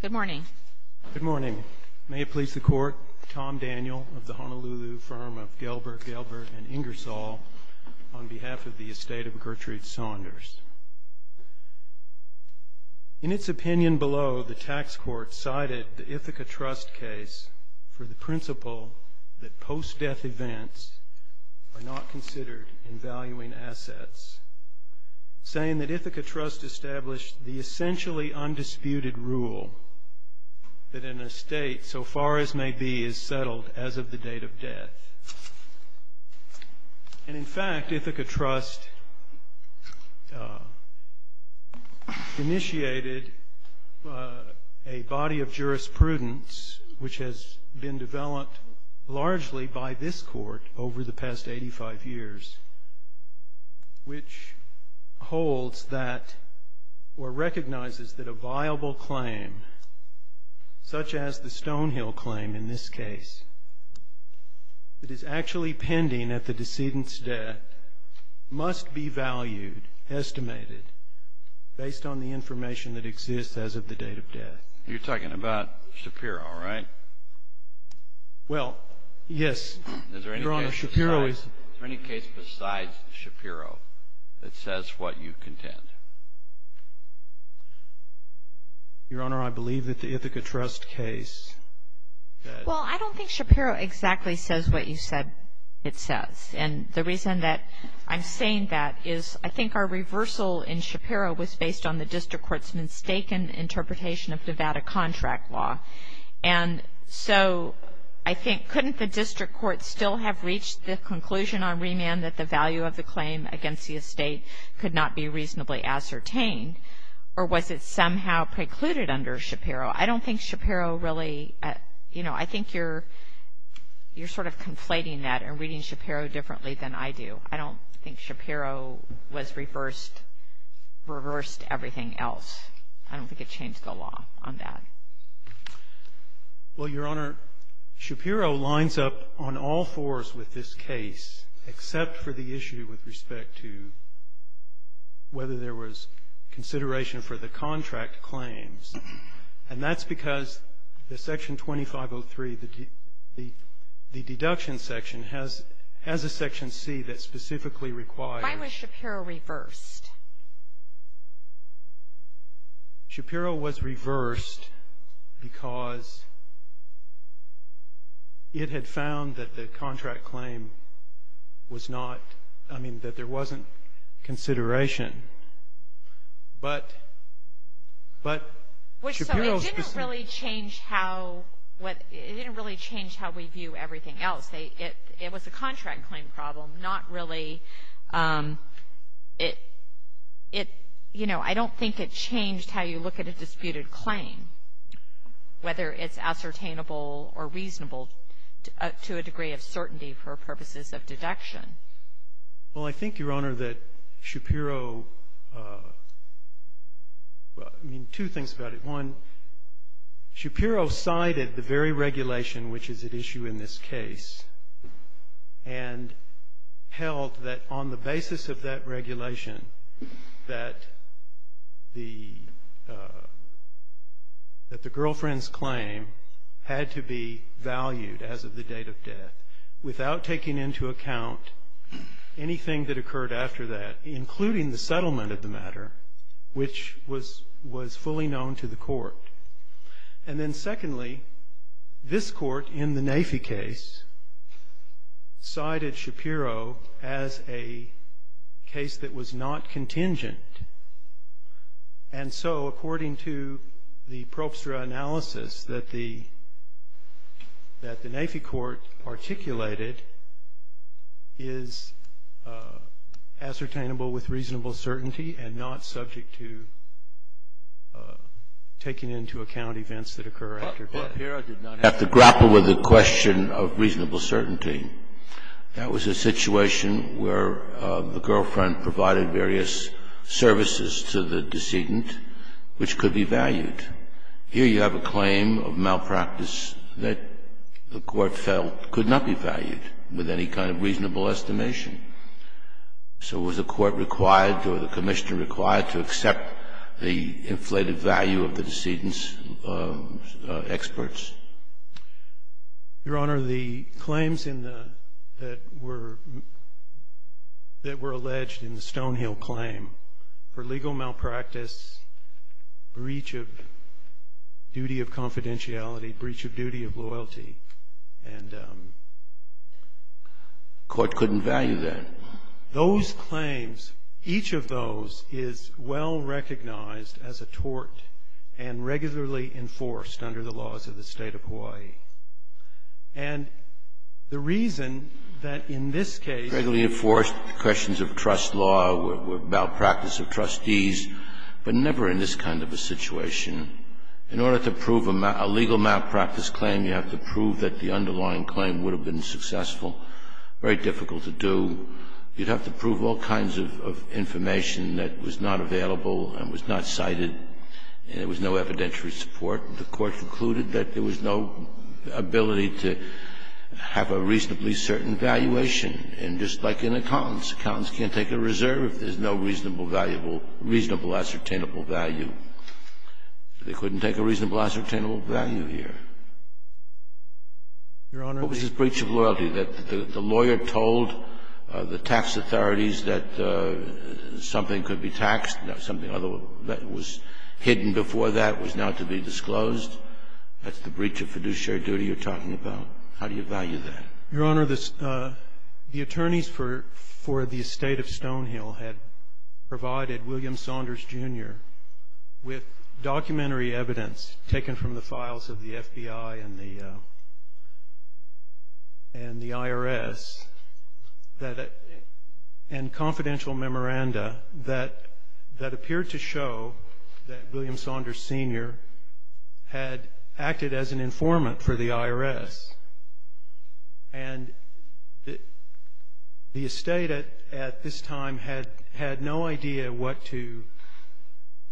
Good morning. Good morning. May it please the court, Tom Daniel of the Honolulu firm of Gelbert, Gelbert & Ingersoll, on behalf of the estate of Gertrude Saunders. In its opinion below, the tax court cited the Ithaca Trust case for the principle that post-death events are not considered in valuing assets, saying that Ithaca Trust established the essentially undisputed rule that an estate, so far as may be, is settled as of the date of death. And in fact, Ithaca Trust initiated a body of jurisprudence, which has been developed largely by this court over the past 85 years, which holds that, or recognizes that a viable claim, such as the Stonehill claim in this case, that is actually pending at the decedent's death, must be valued, estimated, based on the information that exists as of the date of death. You're talking about Shapiro, right? Well, yes, Your Honor, Shapiro is... Is there any case besides Shapiro that says what you contend? Your Honor, I believe that the Ithaca Trust case that... Well, I don't think Shapiro exactly says what you said it says. And the reason that I'm saying that is I think our reversal in Shapiro was based on the district court's mistaken interpretation of Nevada contract law. And so I think, couldn't the district court still have reached the conclusion on remand that the value of the claim against the estate could not be reasonably ascertained? Or was it somehow precluded under Shapiro? I don't think Shapiro really... You know, I think you're sort of conflating that and reading Shapiro differently than I do. I don't think Shapiro was reversed, reversed everything else. I don't think it changed the law on that. Well, Your Honor, Shapiro lines up on all fours with this case except for the issue with respect to whether there was consideration for the contract claims. And that's because the Section 2503, the deduction section, has a Section C that specifically requires... Shapiro was reversed because it had found that the contract claim was not... I mean, that there wasn't consideration. But Shapiro... It didn't really change how we view everything else. It was a contract claim problem, not really... You know, I don't think it changed how you look at a disputed claim, whether it's ascertainable or reasonable to a degree of certainty for purposes of deduction. Well, I think, Your Honor, that Shapiro... I mean, two things about it. One, Shapiro cited the very regulation which is at issue in this case and held that on the basis of that regulation, that the girlfriend's claim had to be valued as of the date of death without taking into account anything that occurred after that, including the settlement of the matter, which was fully known to the court. And then secondly, this court, in the NAAFI case, cited Shapiro as a case that was not contingent. And so, according to the probstra analysis that the NAAFI court articulated, is ascertainable with reasonable certainty and not subject to taking into account events that occur after death. Shapiro did not have to grapple with the question of reasonable certainty. That was a situation where the girlfriend provided various services to the decedent, which could be valued. Here you have a claim of malpractice that the court felt could not be valued with any kind of reasonable estimation. So was the court required or the commissioner required to accept the inflated value of the decedent's experts? Your Honor, the claims that were alleged in the Stonehill claim for legal malpractice, breach of duty of confidentiality, breach of duty of loyalty, and... The court couldn't value that. Those claims, each of those is well recognized as a tort and regularly enforced under the laws of the state of Hawaii. And the reason that in this case... Regularly enforced, questions of trust law, malpractice of trustees, but never in this kind of a situation. In order to prove a legal malpractice claim, you have to prove that the underlying claim would have been successful. Very difficult to do. You'd have to prove all kinds of information that was not available and was not cited and there was no evidentiary support. The court concluded that there was no ability to have a reasonably certain valuation. And just like in accountants, accountants can't take a reserve if there's no reasonable, valuable, reasonable, ascertainable value. They couldn't take a reasonable, ascertainable value here. Your Honor... What was this breach of loyalty that the lawyer told the tax authorities that something could be taxed, something that was hidden before that was now to be disclosed? That's the breach of fiduciary duty you're talking about. How do you value that? Your Honor, the attorneys for the estate of Stonehill had provided William Saunders, Jr. with documentary evidence taken from the files of the FBI and the IRS and confidential memoranda that appeared to show that William Saunders, Sr. had acted as an informant for the IRS. And the estate at this time had no idea what to,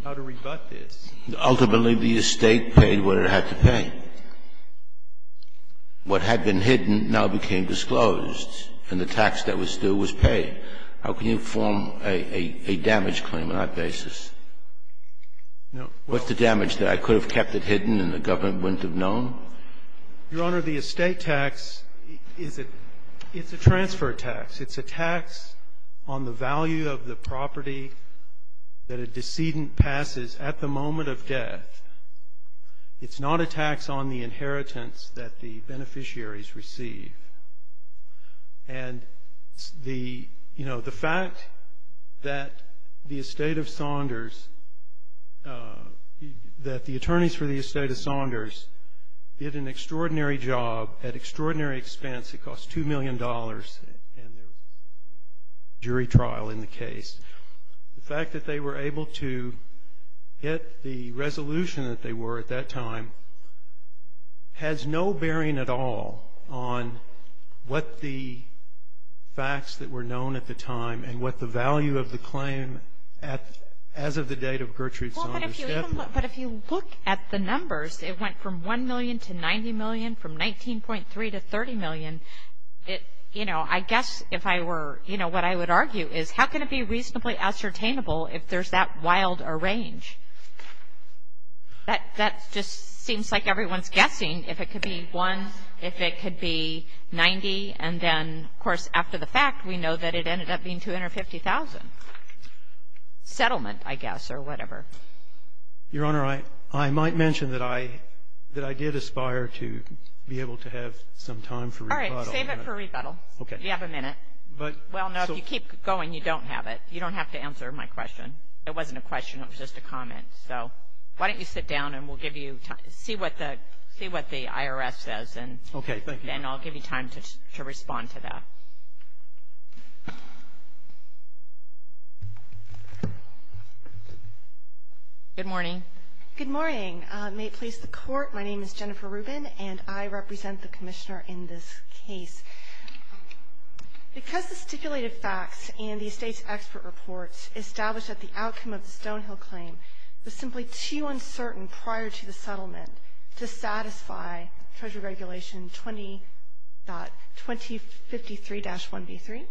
how to rebut this. Ultimately, the estate paid what it had to pay. What had been hidden now became disclosed, and the tax that was due was paid. How can you form a damage claim on that basis? No. What's the damage there? I could have kept it hidden and the government wouldn't have known? Your Honor, the estate tax is a transfer tax. It's a tax on the value of the property that a decedent passes at the moment of death. It's not a tax on the inheritance that the beneficiaries receive. And the fact that the estate of Saunders, that the attorneys for the estate of Saunders did an extraordinary job at extraordinary expense. It cost $2 million, and there was a jury trial in the case. The fact that they were able to get the resolution that they were at that time has no bearing at all on what the facts that were known at the time and what the value of the claim as of the date of Gertrude Saunders' death were. But if you look at the numbers, it went from 1 million to 90 million, from 19.3 to 30 million. You know, I guess if I were, you know, what I would argue is, how can it be reasonably ascertainable if there's that wild a range? That just seems like everyone's guessing if it could be 1, if it could be 90, and then, of course, after the fact, we know that it ended up being 250,000. Settlement, I guess, or whatever. Your Honor, I might mention that I did aspire to be able to have some time for rebuttal. All right. Save it for rebuttal. Okay. You have a minute. Well, no, if you keep going, you don't have it. You don't have to answer my question. It wasn't a question. It was just a comment. So why don't you sit down, and we'll give you time to see what the IRS says. Okay. Thank you. And I'll give you time to respond to that. Good morning. Good morning. May it please the Court, my name is Jennifer Rubin, and I represent the Commissioner in this case. Because the stipulated facts in the estate's expert report established that the outcome of the Stonehill claim was simply too uncertain prior to the settlement to satisfy Treasury Regulation 20.2053-1B3.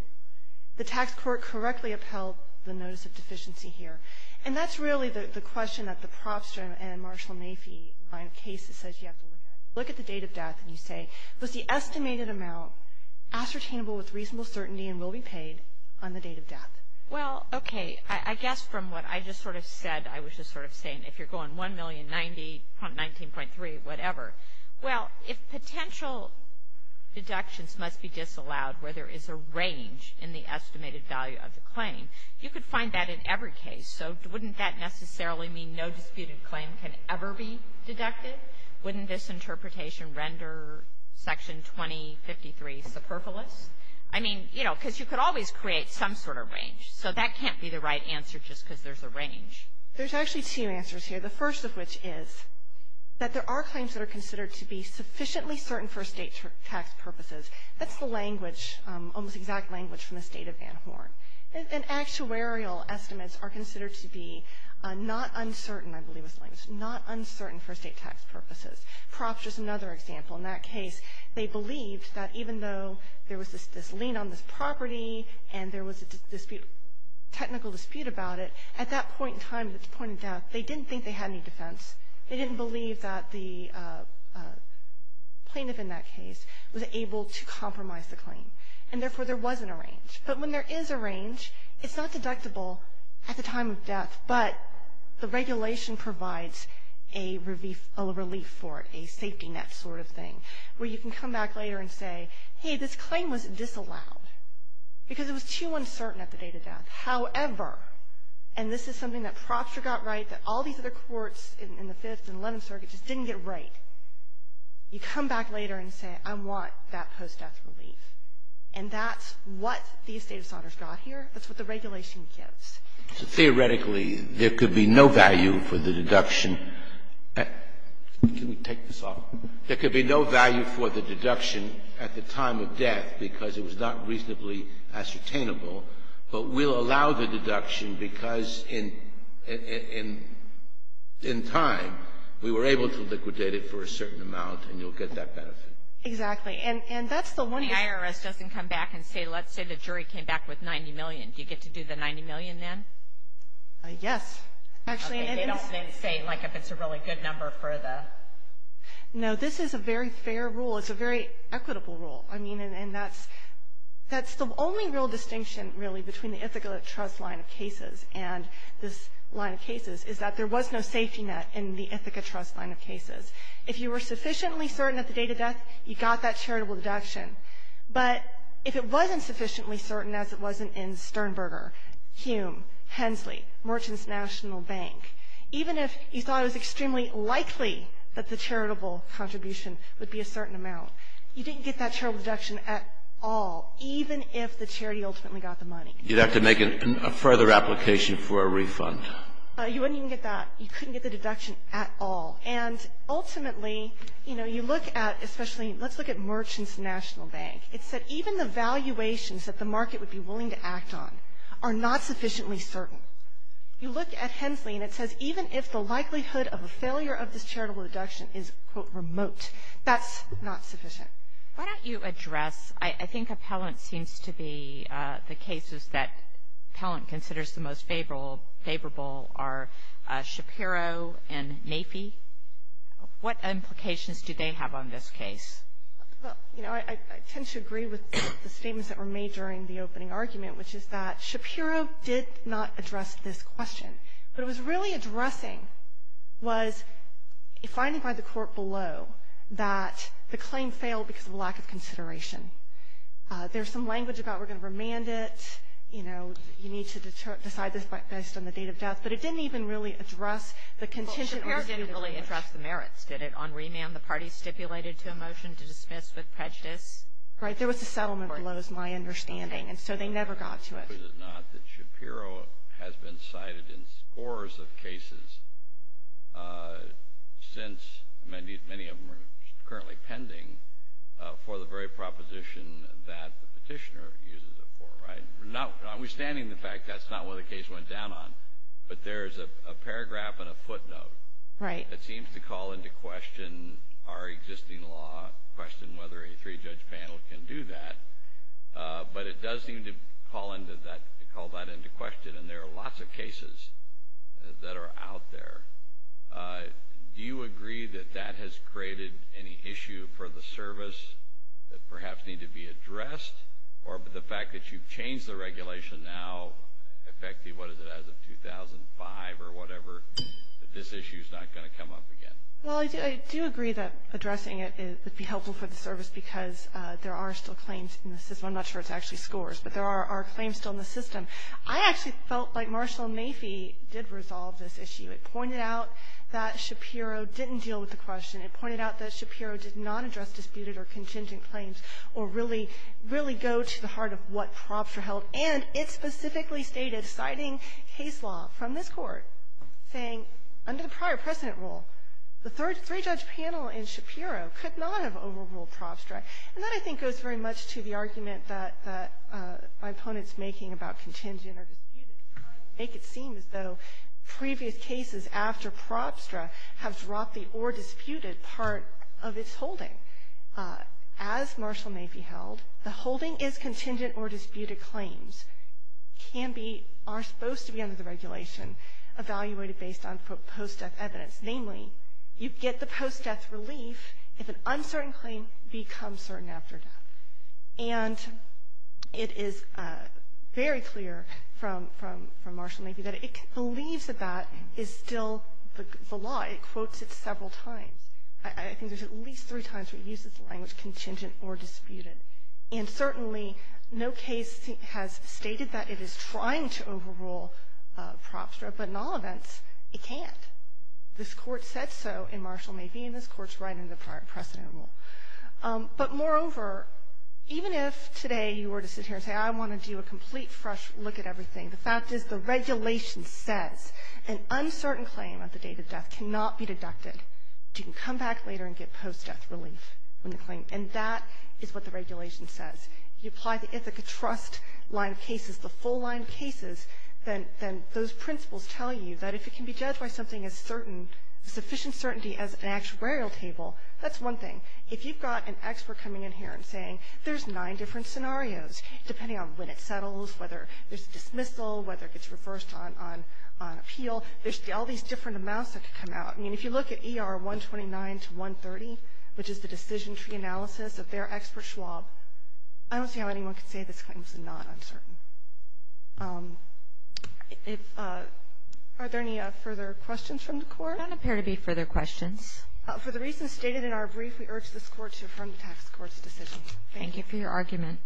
The tax court correctly upheld the notice of deficiency here. And that's really the question that the Propster and Marshall Nafee line of cases says you have to look at. Look at the date of death, and you say, was the estimated amount ascertainable with reasonable certainty and will be paid on the date of death? Well, okay. I guess from what I just sort of said, I was just sort of saying, if you're going 1,090.19.3, whatever. Well, if potential deductions must be disallowed where there is a range in the estimated value of the claim, you could find that in every case. So wouldn't that necessarily mean no disputed claim can ever be deducted? Wouldn't this interpretation render Section 20.53 superfluous? I mean, you know, because you could always create some sort of range. So that can't be the right answer just because there's a range. There's actually two answers here. The first of which is that there are claims that are considered to be sufficiently certain for state tax purposes. That's the language, almost exact language from the State of Van Horn. And actuarial estimates are considered to be not uncertain, I believe is the language, not uncertain for state tax purposes. Propster is another example. In that case, they believed that even though there was this lien on this property and there was a technical dispute about it, at that point in time, at the point of death, they didn't think they had any defense. They didn't believe that the plaintiff in that case was able to compromise the claim. And therefore, there wasn't a range. But when there is a range, it's not deductible at the time of death, but the regulation provides a relief for it, a safety net sort of thing, where you can come back later and say, hey, this claim was disallowed because it was too uncertain at the date of death. However, and this is something that Propster got right, that all these other courts in the Fifth and Eleventh Circuit just didn't get right, you come back later and say, I want that post-death relief. And that's what the estate of Saunders got here. That's what the regulation gives. So theoretically, there could be no value for the deduction. Can we take this off? There could be no value for the deduction at the time of death because it was not reasonably ascertainable, but we'll allow the deduction because in time, we were able to liquidate it for a certain amount, and you'll get that benefit. Exactly. And that's the one you're saying. The IRS doesn't come back and say, let's say the jury came back with 90 million. Do you get to do the 90 million then? Yes. They don't say, like, if it's a really good number for the? No, this is a very fair rule. It's a very equitable rule. I mean, and that's the only real distinction, really, between the Ithaca Trust line of cases and this line of cases, is that there was no safety net in the Ithaca Trust line of cases. If you were sufficiently certain at the date of death, you got that charitable deduction. But if it wasn't sufficiently certain, as it wasn't in Sternberger, Hume, Hensley, Merchants National Bank, even if you thought it was extremely likely that the charitable contribution would be a certain amount, you didn't get that charitable deduction at all, even if the charity ultimately got the money. You'd have to make a further application for a refund. You wouldn't even get that. You couldn't get the deduction at all. And ultimately, you know, you look at especially, let's look at Merchants National Bank. It said even the valuations that the market would be willing to act on are not sufficiently certain. You look at Hensley, and it says even if the likelihood of a failure of this charitable deduction is, quote, remote, that's not sufficient. Why don't you address, I think Appellant seems to be the cases that Appellant considers the most favorable are Shapiro and Nafee. What implications do they have on this case? Well, you know, I tend to agree with the statements that were made during the opening argument, which is that Shapiro did not address this question. But what it was really addressing was finding by the court below that the claim failed because of a lack of consideration. There's some language about we're going to remand it, you know, and you need to decide this based on the date of death. But it didn't even really address the contingent. Well, Shapiro didn't really address the merits, did it? On remand, the party stipulated to a motion to dismiss with prejudice. Right. There was a settlement below, is my understanding, and so they never got to it. It is not that Shapiro has been cited in scores of cases since many of them are currently pending for the very proposition that the petitioner uses it for, right? Notwithstanding the fact that's not what the case went down on, but there's a paragraph and a footnote. Right. It seems to call into question our existing law, question whether a three-judge panel can do that, but it does seem to call that into question, and there are lots of cases that are out there. Do you agree that that has created any issue for the service that perhaps need to be addressed or the fact that you've changed the regulation now effectively, what is it, as of 2005 or whatever, that this issue is not going to come up again? Well, I do agree that addressing it would be helpful for the service because there are still claims in the system. I'm not sure it's actually scores, but there are claims still in the system. I actually felt like Marshall and Maffey did resolve this issue. It pointed out that Shapiro didn't deal with the question. It pointed out that Shapiro did not address disputed or contingent claims or really, really go to the heart of what Probstra held, and it specifically stated, citing case law from this Court, saying under the prior precedent rule, the three-judge panel in Shapiro could not have overruled Probstra. And that, I think, goes very much to the argument that my opponent's making about contingent or disputed trying to make it seem as though previous cases after Probstra have dropped the or disputed part of its holding. As Marshall Maffey held, the holding is contingent or disputed claims can be, are supposed to be under the regulation evaluated based on post-death evidence. Namely, you get the post-death relief if an uncertain claim becomes certain after death. And it is very clear from Marshall Maffey that it believes that that is still the law. It quotes it several times. I think there's at least three times where it uses the language contingent or disputed. And certainly no case has stated that it is trying to overrule Probstra, but in all events, it can't. This Court said so in Marshall Maffey, and this Court's right under the prior precedent rule. But moreover, even if today you were to sit here and say, I want to do a complete fresh look at everything, the fact is the regulation says an uncertain claim at the date of death cannot be deducted. You can come back later and get post-death relief on the claim. And that is what the regulation says. If you apply the Ithaca Trust line of cases, the full line of cases, then those principles tell you that if it can be judged by something as certain, sufficient certainty as an If you've got an expert coming in here and saying there's nine different scenarios, depending on when it settles, whether there's a dismissal, whether it gets reversed on appeal, there's all these different amounts that could come out. I mean, if you look at ER 129 to 130, which is the decision tree analysis of their expert Schwab, I don't see how anyone could say this claim is not uncertain. Are there any further questions from the Court? There don't appear to be further questions. For the reasons stated in our brief, we urge this Court to affirm the tax court's decision. Thank you. Thank you for your argument.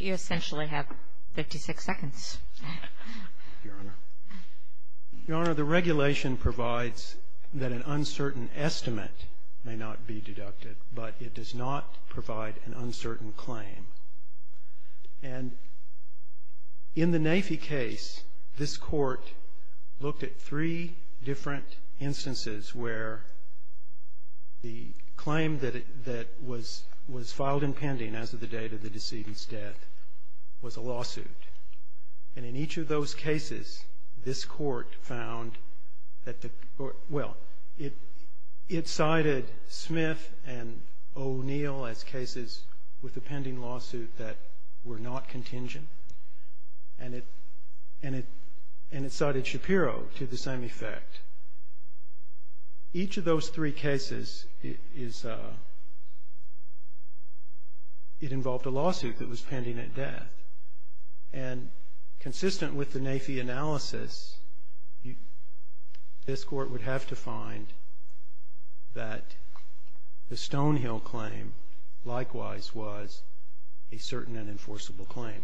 You essentially have 56 seconds. Your Honor, the regulation provides that an uncertain estimate may not be deducted, but it does not provide an uncertain claim. And in the Nafee case, this Court looked at three different instances where the claim that was filed in pending as of the date of the decedent's death was a lawsuit. And in each of those cases, this Court found that the, well, it cited Smith and O'Neill as cases with a pending lawsuit that were not contingent. And it cited Shapiro to the same effect. Each of those three cases, it involved a lawsuit that was pending at death. And consistent with the Nafee analysis, this Court would have to find that the Stonehill claim likewise was a certain and enforceable claim. What is the judge to say you can't consider post-death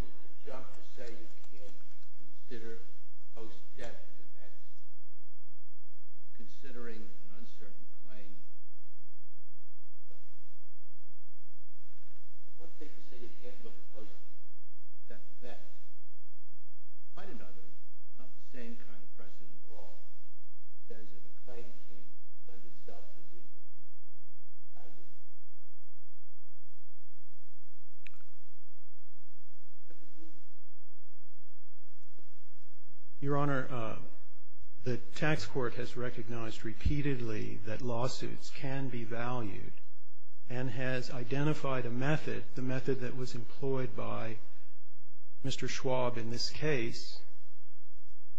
defense? Considering an uncertain claim. What is the judge to say you can't look at post-death defense? Quite another, not the same kind of precedent at all. In terms of the claim case, when did Dr. Wilkinson argue? Your Honor, the tax court has recognized repeatedly that lawsuits can be valued and has identified a method, the method that was employed by Mr. Schwab in this case,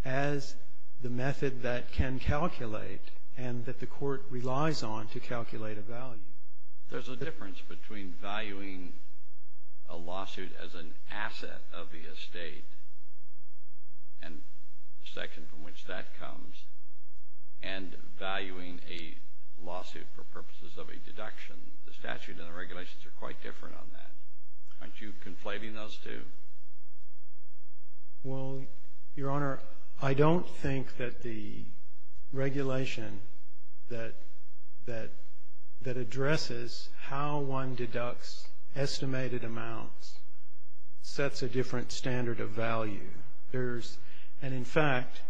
as the method that can calculate and that the Court relies on to calculate a value. There's a difference between valuing a lawsuit as an asset of the estate and the section from which that comes, and valuing a lawsuit for purposes of a deduction. The statute and the regulations are quite different on that. Aren't you conflating those two? Well, Your Honor, I don't think that the regulation that addresses how one deducts estimated amounts sets a different standard of value. There's, and in fact,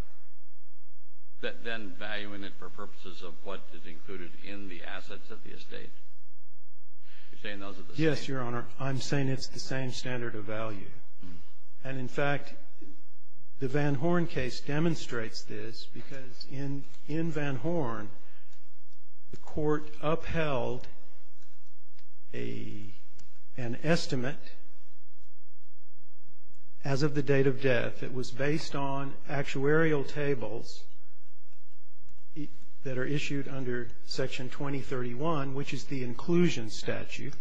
Then valuing it for purposes of what is included in the assets of the estate? You're saying those are the same? Your Honor, I'm saying it's the same standard of value. And in fact, the Van Horn case demonstrates this because in Van Horn, the Court upheld an estimate as of the date of death. It was based on actuarial tables that are issued under Section 2031, which is the inclusion statute.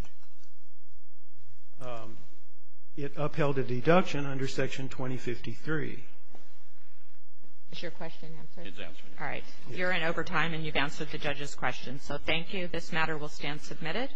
It upheld a deduction under Section 2053. Is your question answered? It's answered. All right. You're in overtime, and you've answered the judge's question. So thank you. This matter will stand submitted.